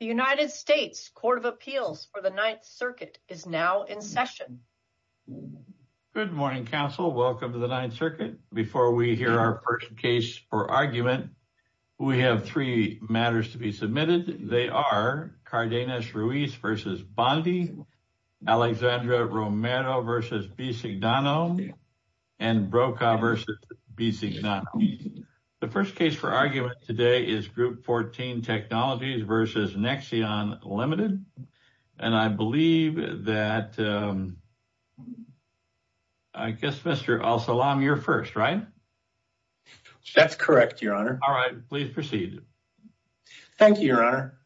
The United States Court of Appeals for the Ninth Circuit is now in session. Good morning, Council. Welcome to the Ninth Circuit. Before we hear our first case for argument, we have three matters to be submitted. They are Cardenas-Ruiz v. Bondi, Alexandra Romero v. Bisignano, and Broca v. Bisignano. The first case for argument today is Group 14 Technologies v. Nexeon Limited, and I believe that, I guess, Mr. Al-Salam, you're first, right? That's correct, Your Honor. All right, please proceed. Thank you, Your Honor.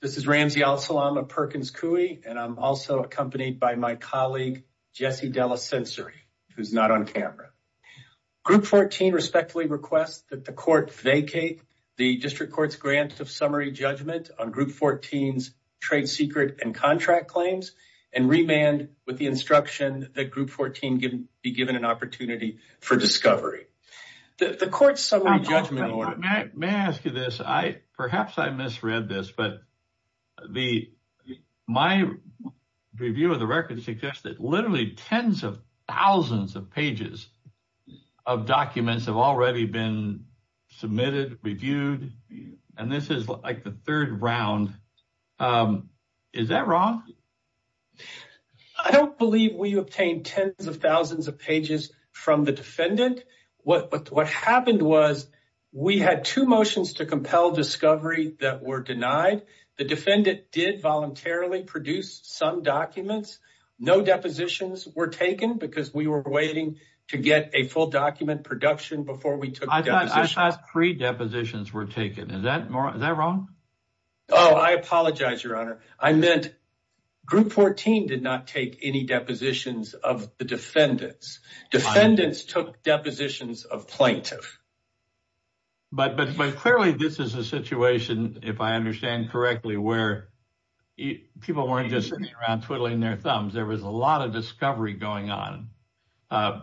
This is Ramzi Al-Salam of Perkins Coie, and I'm also accompanied by my colleague, Jesse Della Sensori, who's not on camera. Group 14 respectfully requests that the Court vacate the District Court's grant of summary judgment on Group 14's trade secret and contract claims and remand with the instruction that Group 14 be given an opportunity for discovery. The Court's summary judgment order— May I ask you this? Perhaps I misread this, but my review of the record suggests that literally tens of thousands of pages of documents have already been submitted, reviewed, and this is like the third round. Is that wrong? I don't believe we obtained tens of thousands of pages from the defendant. What happened was we had two motions to compel discovery that were denied. The defendant did voluntarily produce some documents. No depositions were taken because we were waiting to get a full document production before we took depositions. I thought three depositions were taken. Is that wrong? Oh, I apologize, Your Honor. I meant Group 14 did not take any depositions of the defendants. Defendants took depositions of plaintiffs. But clearly, this is a situation, if I understand correctly, where people weren't just sitting around twiddling their thumbs. There was a lot of discovery going on.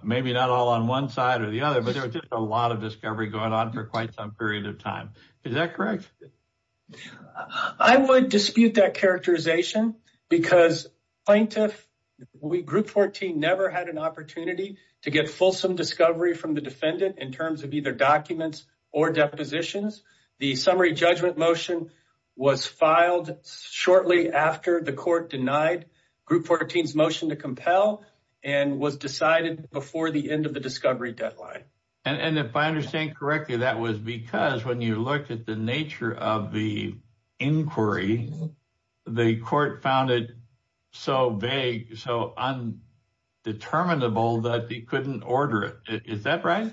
Maybe not all on one side or the other, but there was just a lot of discovery going on for quite some period of time. Is that correct? I would dispute that characterization because plaintiffs— Group 14 never had an opportunity to get fulsome discovery from the was filed shortly after the court denied Group 14's motion to compel and was decided before the end of the discovery deadline. If I understand correctly, that was because when you looked at the nature of the inquiry, the court found it so vague, so undeterminable that they couldn't order it. Is that right?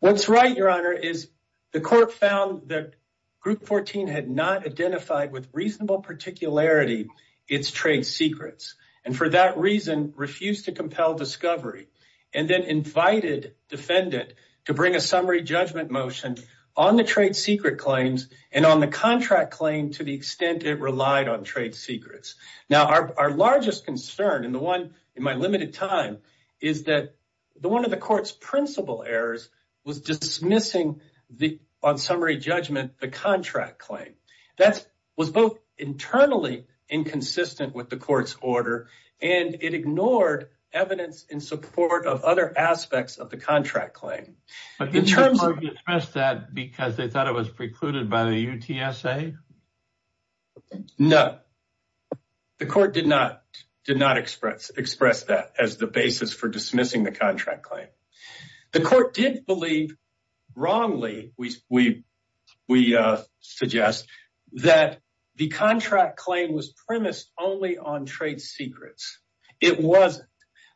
What's right, Your Honor, is the court found that Group 14 had not identified with reasonable particularity its trade secrets and for that reason refused to compel discovery and then invited defendant to bring a summary judgment motion on the trade secret claims and on the contract claim to the extent it relied on trade secrets. Now, our largest concern and the limited time is that one of the court's principal errors was dismissing on summary judgment the contract claim. That was both internally inconsistent with the court's order and it ignored evidence in support of other aspects of the contract claim. Did the court dismiss that because they thought it was precluded by the UTSA? No, the court did not express that as the basis for dismissing the contract claim. The court did believe wrongly, we suggest, that the contract claim was premised only on trade secrets. It wasn't.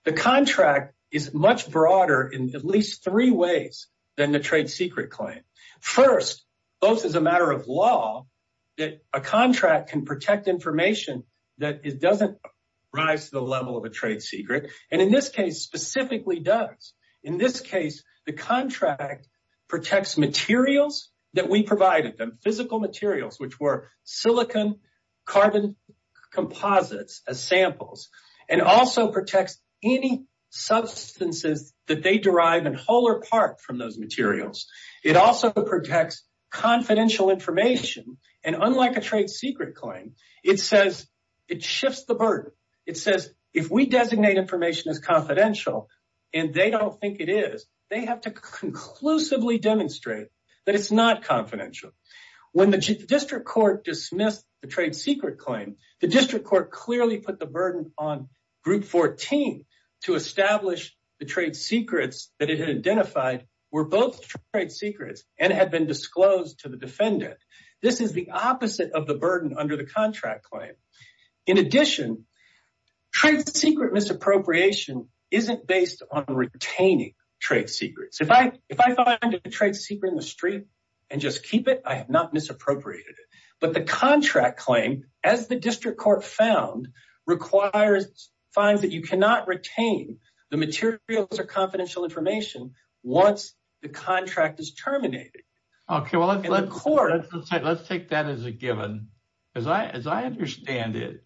The contract is much broader in at least three ways than the trade secret claim. First, both as a matter of law that a contract can protect information that it doesn't rise to the level of a trade secret and in this case specifically does. In this case, the contract protects materials that we provided them, physical materials, which were silicon carbon composites as samples and also protects any substances that they derive in whole or part from those materials. It also protects confidential information and unlike a trade secret claim, it shifts the burden. It says if we designate information as confidential and they don't think it is, they have to conclusively demonstrate that it's not confidential. When the district court dismissed the trade secret claim, the district court clearly put the burden on group 14 to establish the trade secrets that it had identified were both trade secrets and had been disclosed to the defendant. This is the opposite of the burden under the contract claim. In addition, trade secret misappropriation isn't based on retaining trade secrets. If I find a trade secret in the street and just keep it, I have not misappropriated it. But the contract claim, as the district court found, requires fines that you retain the materials or confidential information once the contract is terminated. Let's take that as a given. As I understand it,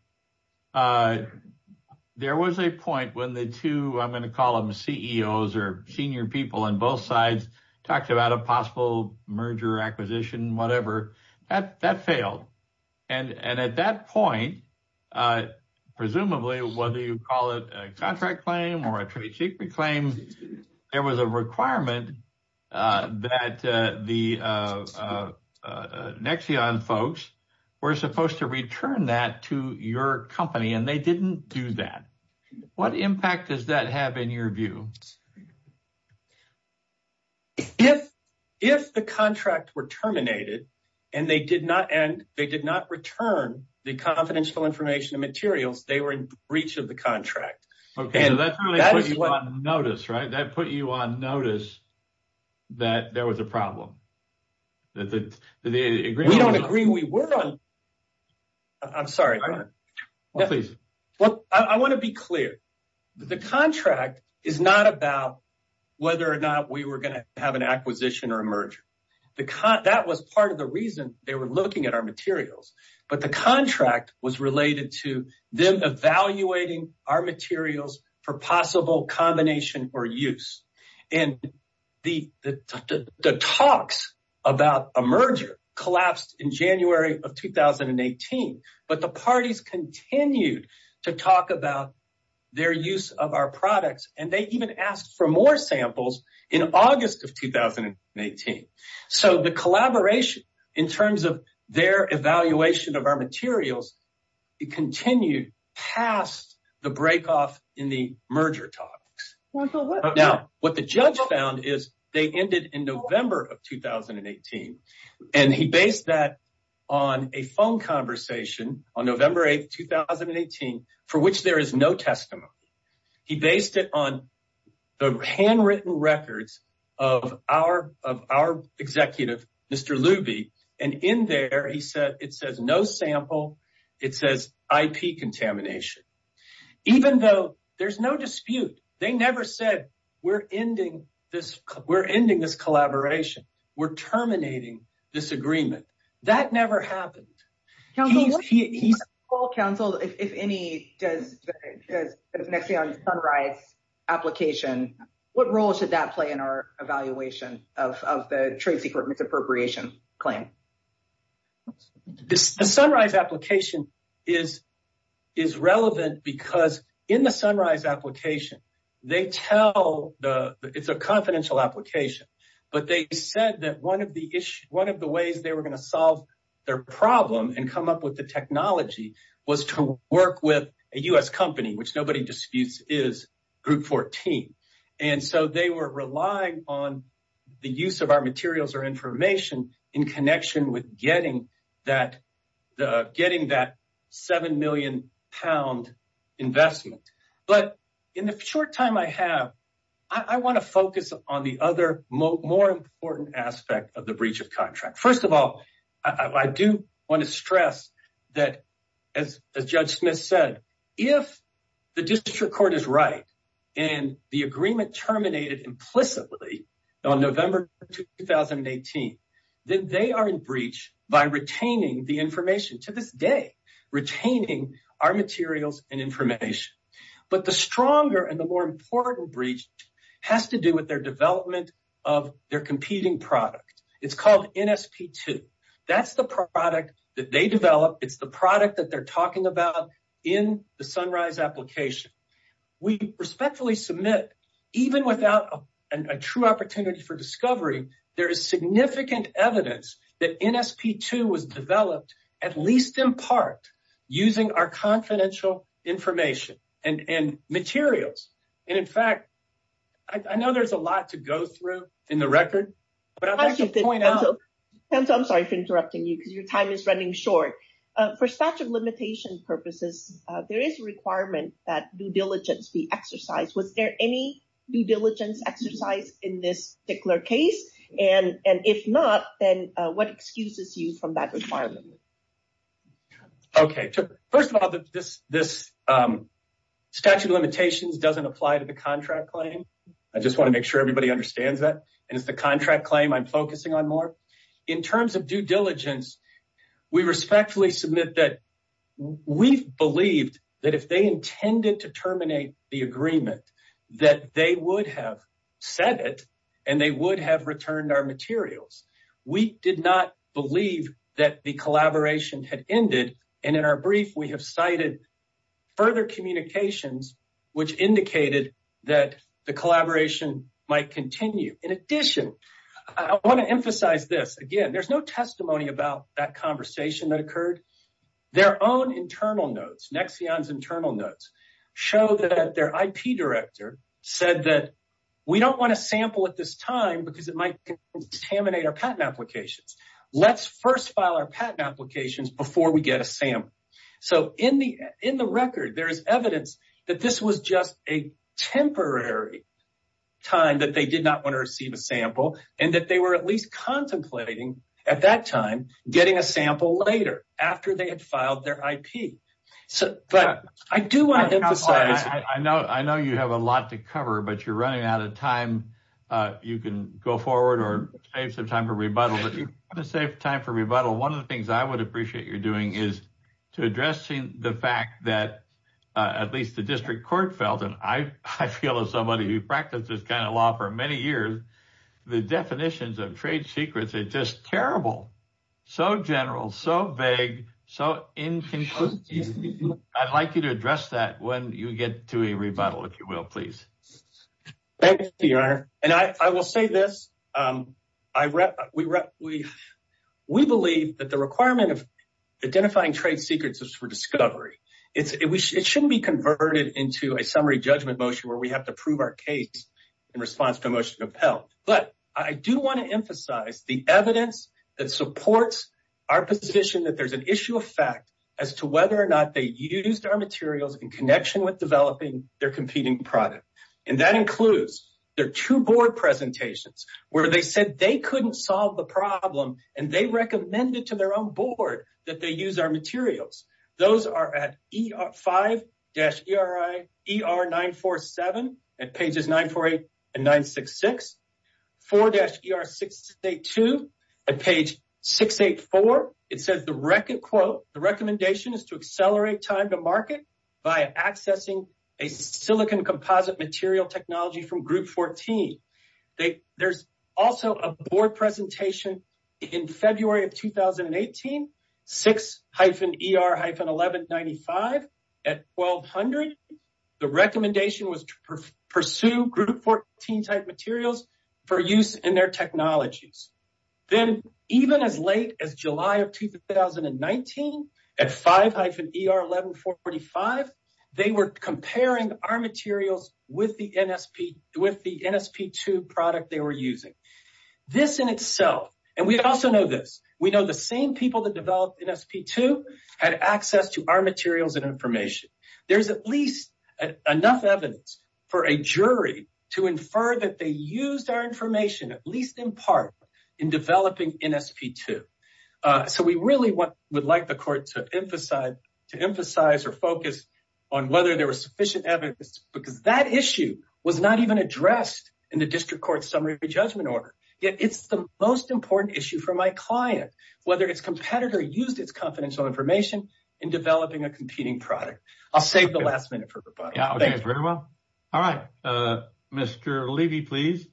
there was a point when the two CEOs or senior people on both sides talked about a possible acquisition. That failed. At that point, presumably, whether you call it a contract claim or a trade secret claim, there was a requirement that the Nexion folks were supposed to return that to your company and they didn't do that. What impact does that have in your view? If the contract were terminated and they did not return the confidential information and materials, they were in breach of the contract. That put you on notice, right? That put you on whether or not we were going to have an acquisition or a merger. That was part of the reason they were looking at our materials, but the contract was related to them evaluating our materials for possible combination or use. The talks about a merger collapsed in January of 2018, but the parties continued to talk about their use of our products. They even asked for more samples in August of 2018. The collaboration in terms of their evaluation of our materials continued past the break-off in the merger talks. What the judge found is that they ended in November of 2018. He based that on a phone conversation on November 8, 2018, for which there is no testimony. He based it on the handwritten records of our executive, Mr. Luby. In there, it says no sample. It says IP contamination. Even though there's no dispute, they never said, we're ending this collaboration. We're terminating this agreement. That never happened. What role should the Sunrise application play in our evaluation of the trade secret misappropriation claim? The Sunrise application is relevant because in the Sunrise application, it's a confidential application, but they said that one of the ways they were going to solve their problem and come up with the technology was to work with a U.S. company, which nobody disputes is Group 14. They were relying on the use of our materials or in connection with getting that £7 million investment. In the short time I have, I want to focus on the other, more important aspect of the breach of contract. First of all, I do want to stress that, as Judge Smith said, if the district court is right and the agreement terminated implicitly on November 2018, then they are in breach by retaining the information, to this day, retaining our materials and information. But the stronger and more important breach has to do with their development of their competing product. It's called NSP2. That's the product that they developed. It's the product that they're talking about in the Sunrise application. We respectfully submit that even without a true opportunity for discovery, there is significant evidence that NSP2 was developed, at least in part, using our confidential information and materials. In fact, I know there's a lot to go through in the record, but I'd like to point out— I'm sorry for interrupting you because your time is running short. For statute of limitations purposes, there is a requirement that due diligence be exercised. Was there any due diligence exercise in this particular case? If not, then what excuses you from that requirement? Okay. First of all, this statute of limitations doesn't apply to the contract claim. I just want to make sure everybody understands that. It's the contract claim I'm focusing on in terms of due diligence. We respectfully submit that we believed that if they intended to terminate the agreement, that they would have said it, and they would have returned our materials. We did not believe that the collaboration had ended. In our brief, we have cited further communications, which indicated that the collaboration might continue. In addition, I want to emphasize this again. There's no testimony about that conversation that occurred. Their own internal notes—Nexion's internal notes—show that their IP director said that we don't want to sample at this time because it might contaminate our patent applications. Let's first file our patent applications before we get a sample. In the record, there is evidence that this was just a temporary time that they did not want to receive a sample, and that they were at least contemplating, at that time, getting a sample later, after they had filed their IP. I do want to emphasize— I know you have a lot to cover, but you're running out of time. You can go forward or save some time for rebuttal. If you want to save time for rebuttal, one of the things I appreciate you're doing is addressing the fact that, at least the district court felt, and I feel as somebody who practiced this kind of law for many years, the definitions of trade secrets are just terrible—so general, so vague, so inconclusive. I'd like you to address that when you get to a rebuttal, if you will, please. Thank you, Your Honor. I will say this. We believe that the requirement of identifying trade secrets is for discovery. It shouldn't be converted into a summary judgment motion, where we have to prove our case in response to a motion to compel. But I do want to emphasize the evidence that supports our position that there's an issue of fact as to whether or not they used our materials in connection with developing their competing product. And that includes their two board presentations, where they said they couldn't solve the problem and they recommended to their own board that they use our materials. Those are at 5-ER947 at pages 948 and 966. At 4-ER682 at page 684, it says the recommendation is to accelerate time to market by accessing a silicon composite material technology from group 14. There's also a board type materials for use in their technologies. Then, even as late as July of 2019, at 5-ER1145, they were comparing our materials with the NSP2 product they were using. This in itself, and we also know this, we know the same people that developed NSP2 had access to our materials and information. There's at least enough evidence for a jury to infer that they used our information, at least in part, in developing NSP2. So, we really would like the court to emphasize or focus on whether there was sufficient evidence because that issue was not even addressed in the district court summary of the judgment order. Yet, it's the most important issue for my client, whether its competitor used its confidential information in developing a competing product. I'll save the last minute for rebuttal. Very well. All right. Mr. Levy, please.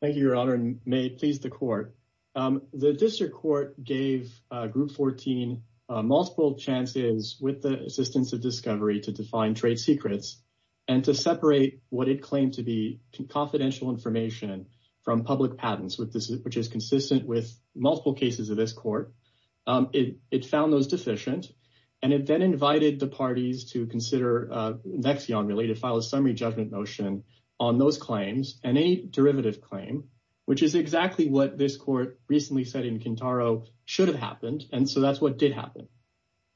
Thank you, Your Honor, and may it please the court. The district court gave group 14 multiple chances with the assistance of discovery to define trade secrets and to separate what it claimed to be confidential information from public patents, which is consistent with multiple cases of this court. It found those deficient, and it then invited the parties to consider NXIV on related file a summary judgment motion on those claims and a derivative claim, which is exactly what this court recently said in Quintaro should have happened, and so that's what did happen.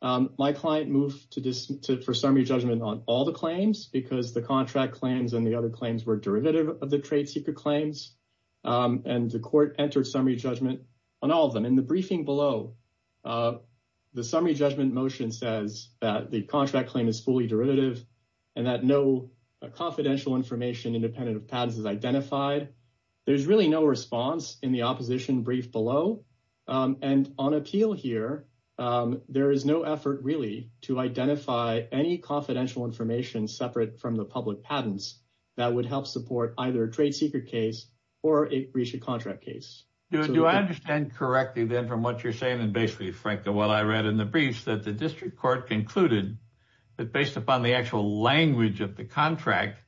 My client moved for summary judgment on all the claims because the contract claims and the other claims were derivative of the trade secret claims, and the court entered summary judgment on all of them. In the briefing below, the summary judgment motion says that the contract claim is fully derivative and that no confidential information independent of patents is identified. There's really no response in the opposition brief below, and on appeal here, there is no effort really to identify any confidential information separate from the public patents that would help support either a trade secret case or a breach of contract case. Do I understand correctly, then, from what you're saying and basically, frankly, what I read in the briefs that the district court concluded that based upon the actual language of the contract,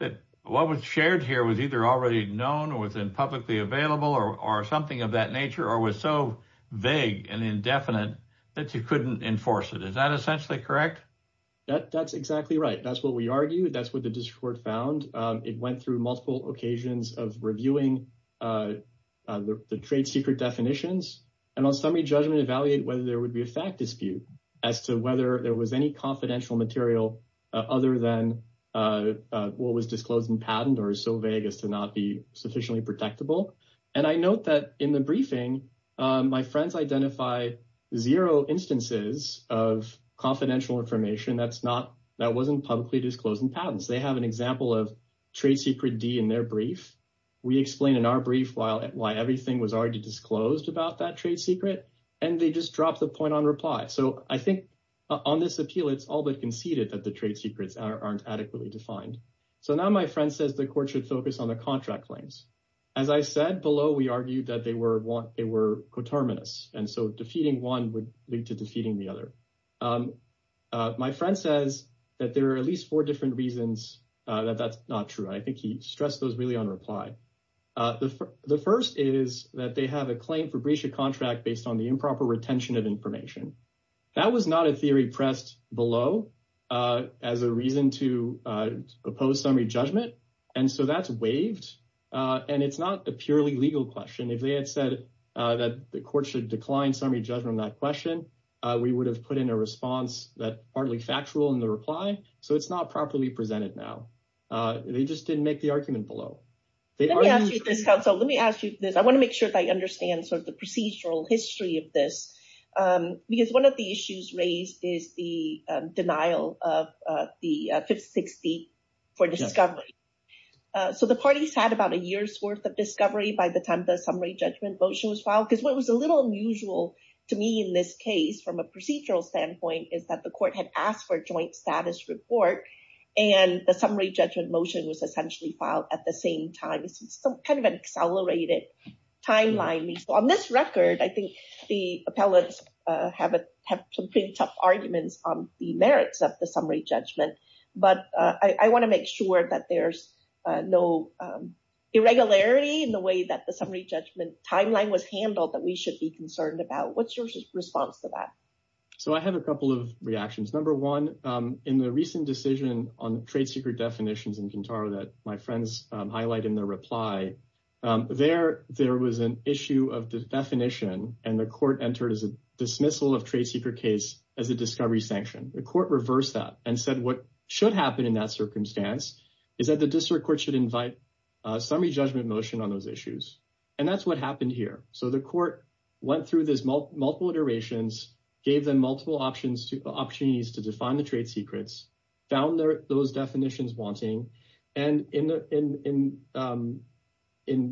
that what was shared here was either already known or was in publicly available or something of that nature, or was so vague and indefinite that you couldn't enforce it. Is that essentially correct? That's exactly right. That's what we argue. That's what the district court found. It went through multiple occasions of reviewing the trade secret definitions, and on summary judgment, evaluate whether there would be a fact dispute as to whether there was any confidential material other than what was disclosed in patent or so vague as to not be sufficiently protectable. I note that in the briefing, my friends identify zero instances of confidential information that wasn't publicly disclosed in patents. They have an example of trade secret D in their brief. We explain in our brief why everything was already disclosed about that trade secret, and they just drop the point on reply. I think on this appeal, it's all but conceded that the trade secrets aren't adequately defined. Now, my friend says the court should focus on the contract claims. As I said below, we argued that they were coterminous, and so defeating one would lead to defeating the other. My friend says that there are at least four reasons that that's not true. I think he stressed those really on reply. The first is that they have a claim for breach of contract based on the improper retention of information. That was not a theory pressed below as a reason to oppose summary judgment, and so that's waived. It's not a purely legal question. If they had said that the court should decline summary judgment on that question, we would have put in a response that's partly factual in the reply, so it's not properly presented now. They just didn't make the argument below. Let me ask you this, counsel. Let me ask you this. I want to make sure that I understand sort of the procedural history of this because one of the issues raised is the denial of the 560 for discovery. So the parties had about a year's worth of discovery by the time the summary judgment motion was filed because what was a little unusual to me in this case from a procedural standpoint is that the court had asked for a joint status report and the summary judgment motion was essentially filed at the same time. It's some kind of an accelerated timeline. On this record, I think the appellants have some pretty tough arguments on the merits of the summary judgment, but I want to make sure that there's no irregularity in the that the summary judgment timeline was handled that we should be concerned about. What's your response to that? So I have a couple of reactions. Number one, in the recent decision on the trade secret definitions in Quintara that my friends highlighted in their reply, there was an issue of the definition and the court entered as a dismissal of trade secret case as a discovery sanction. The court reversed that and said what should happen in that circumstance is that the and that's what happened here. So the court went through this multiple iterations, gave them multiple options to define the trade secrets, found those definitions wanting, and in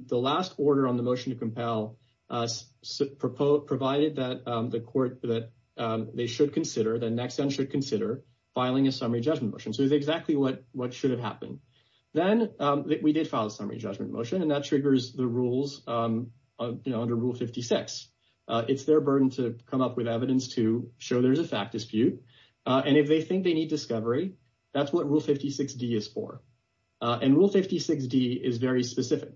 the last order on the motion to compel, provided that the court that they should consider the next time should consider filing a summary judgment motion. So it's exactly what should have happened. Then we did file a summary judgment motion and that triggers rules under Rule 56. It's their burden to come up with evidence to show there's a fact dispute and if they think they need discovery, that's what Rule 56d is for. And Rule 56d is very specific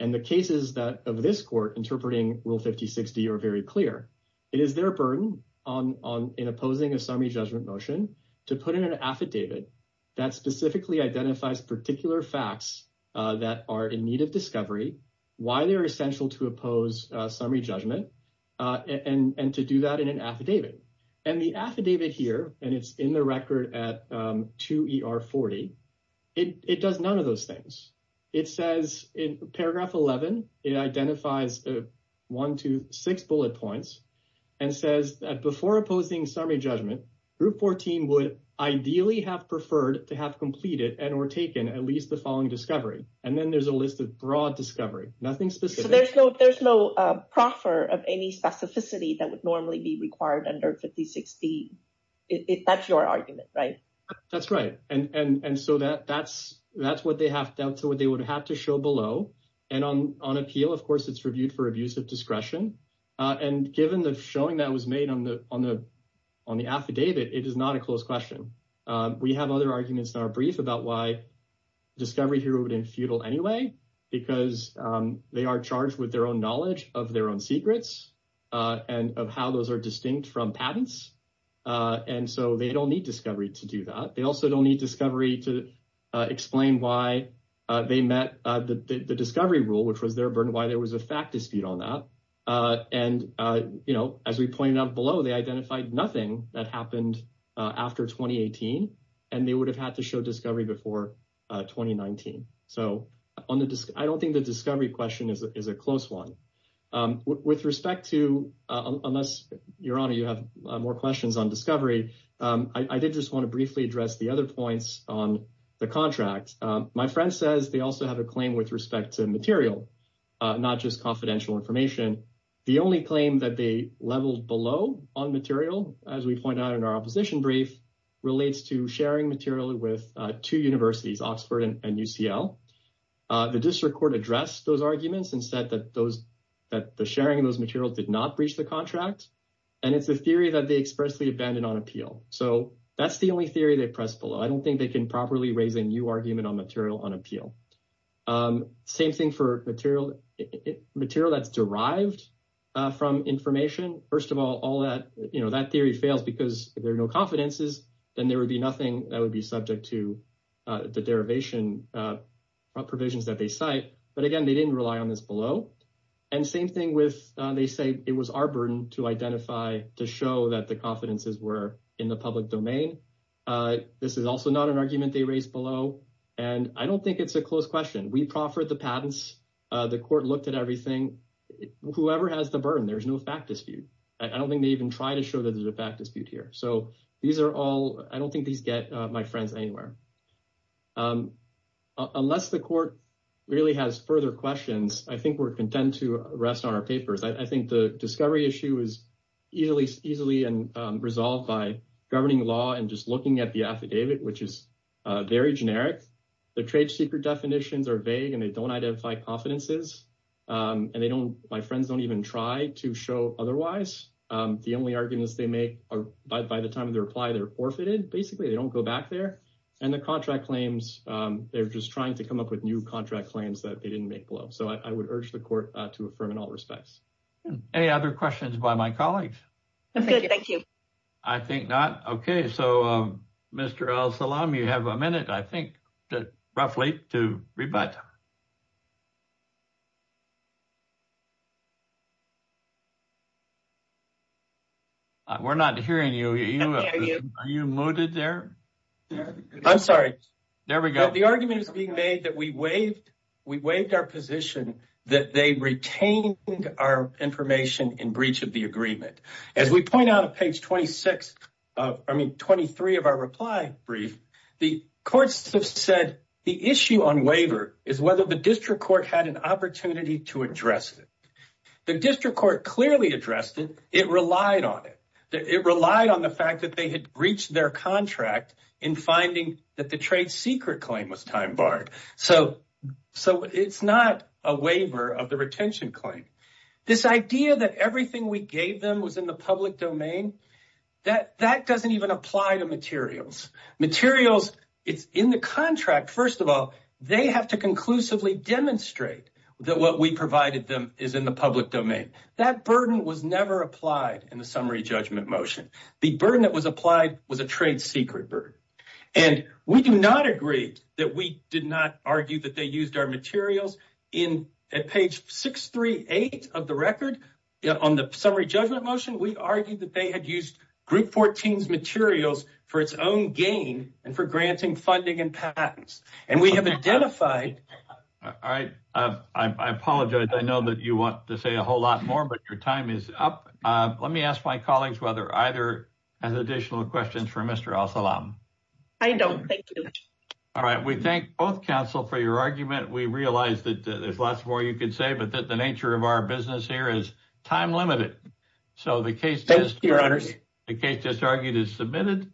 and the cases that of this court interpreting Rule 56d are very clear. It is their burden in opposing a summary judgment motion to put in an affidavit that specifically identifies particular facts that are in need of discovery, why they are essential to oppose summary judgment, and to do that in an affidavit. And the affidavit here, and it's in the record at 2er40, it does none of those things. It says in paragraph 11, it identifies one to six bullet points and says that before opposing summary judgment, group 14 would ideally have preferred to have completed and or taken at least the following discovery. And then there's a list of broad discovery, nothing specific. So there's no proffer of any specificity that would normally be required under 5060. That's your argument, right? That's right. And so that's what they would have to show below. And on appeal, of course, it's reviewed for abuse of discretion. And given the showing that was made on the affidavit, it is not a close question. We have other arguments in our brief about why discovery here would be futile anyway, because they are charged with their own knowledge of their own secrets, and of how those are distinct from patents. And so they don't need discovery to do that. They also don't need discovery to explain why they met the discovery rule, which was their burden, why there was a fact dispute on that. And, you know, as we pointed out below, they identified nothing that happened after 2018. And they would have had to show discovery before 2019. So I don't think the discovery question is a close one. With respect to unless, Your Honor, you have more questions on discovery, I did just want to briefly address the points on the contract. My friend says they also have a claim with respect to material, not just confidential information. The only claim that they leveled below on material, as we point out in our opposition brief, relates to sharing material with two universities, Oxford and UCL. The district court addressed those arguments and said that those that the sharing of those materials did not breach the contract. And it's a theory that they expressly abandoned on appeal. So that's the only theory they press below. I don't think they can properly raise a new argument on material on appeal. Same thing for material that's derived from information. First of all, that theory fails because if there are no confidences, then there would be nothing that would be subject to the derivation provisions that they cite. But again, they didn't rely on this below. And same thing with, they say it was our burden to identify, to show that the confidences were in the public domain. This is also not an argument they raised below. And I don't think it's a close question. We proffered the patents. The court looked at everything. Whoever has the burden, there's no fact dispute. I don't think they even try to show that there's a fact dispute here. So these are all, I don't think these get my friends anywhere. Unless the court really has further questions, I think we're content to rest on our papers. I think the discovery issue is easily resolved by governing law and just looking at the affidavit, which is very generic. The trade secret definitions are vague and they don't identify confidences. And they don't, my friends don't even try to show otherwise. The only arguments they make are by the time of the reply, they're forfeited. Basically, they don't go back there. And the contract claims, they're just trying to come up with new contract claims that they didn't make below. So I would urge the to affirm in all respects. Any other questions by my colleagues? Thank you. I think not. Okay. So Mr. El Salam, you have a minute, I think, roughly to rebut. We're not hearing you. Are you muted there? I'm sorry. There we go. The argument is being made that we waived our position that they retained our information in breach of the agreement. As we point out on page 26, I mean, 23 of our reply brief, the courts have said the issue on waiver is whether the district court had an opportunity to address it. The district court clearly addressed it. It relied on it. It relied on the fact that they had breached their contract in finding that the trade secret claim was time barred. So it's not a waiver of the retention claim. This idea that everything we gave them was in the public domain, that doesn't even apply to materials. Materials, it's in the contract. First of all, they have to conclusively demonstrate that what we provided them is in the public domain. That burden was never applied in the trade secret burden. And we do not agree that we did not argue that they used our materials. In page 638 of the record, on the summary judgment motion, we argued that they had used group 14's materials for its own gain and for granting funding and patents. And we have identified... All right. I apologize. I know that you want to say a whole lot more, but your time is up. Let me ask my colleagues whether either has additional questions for Mr. Al-Salam. I don't. Thank you. All right. We thank both counsel for your argument. We realize that there's lots more you can say, but that the nature of our business here is time limited. So the case just argued is submitted.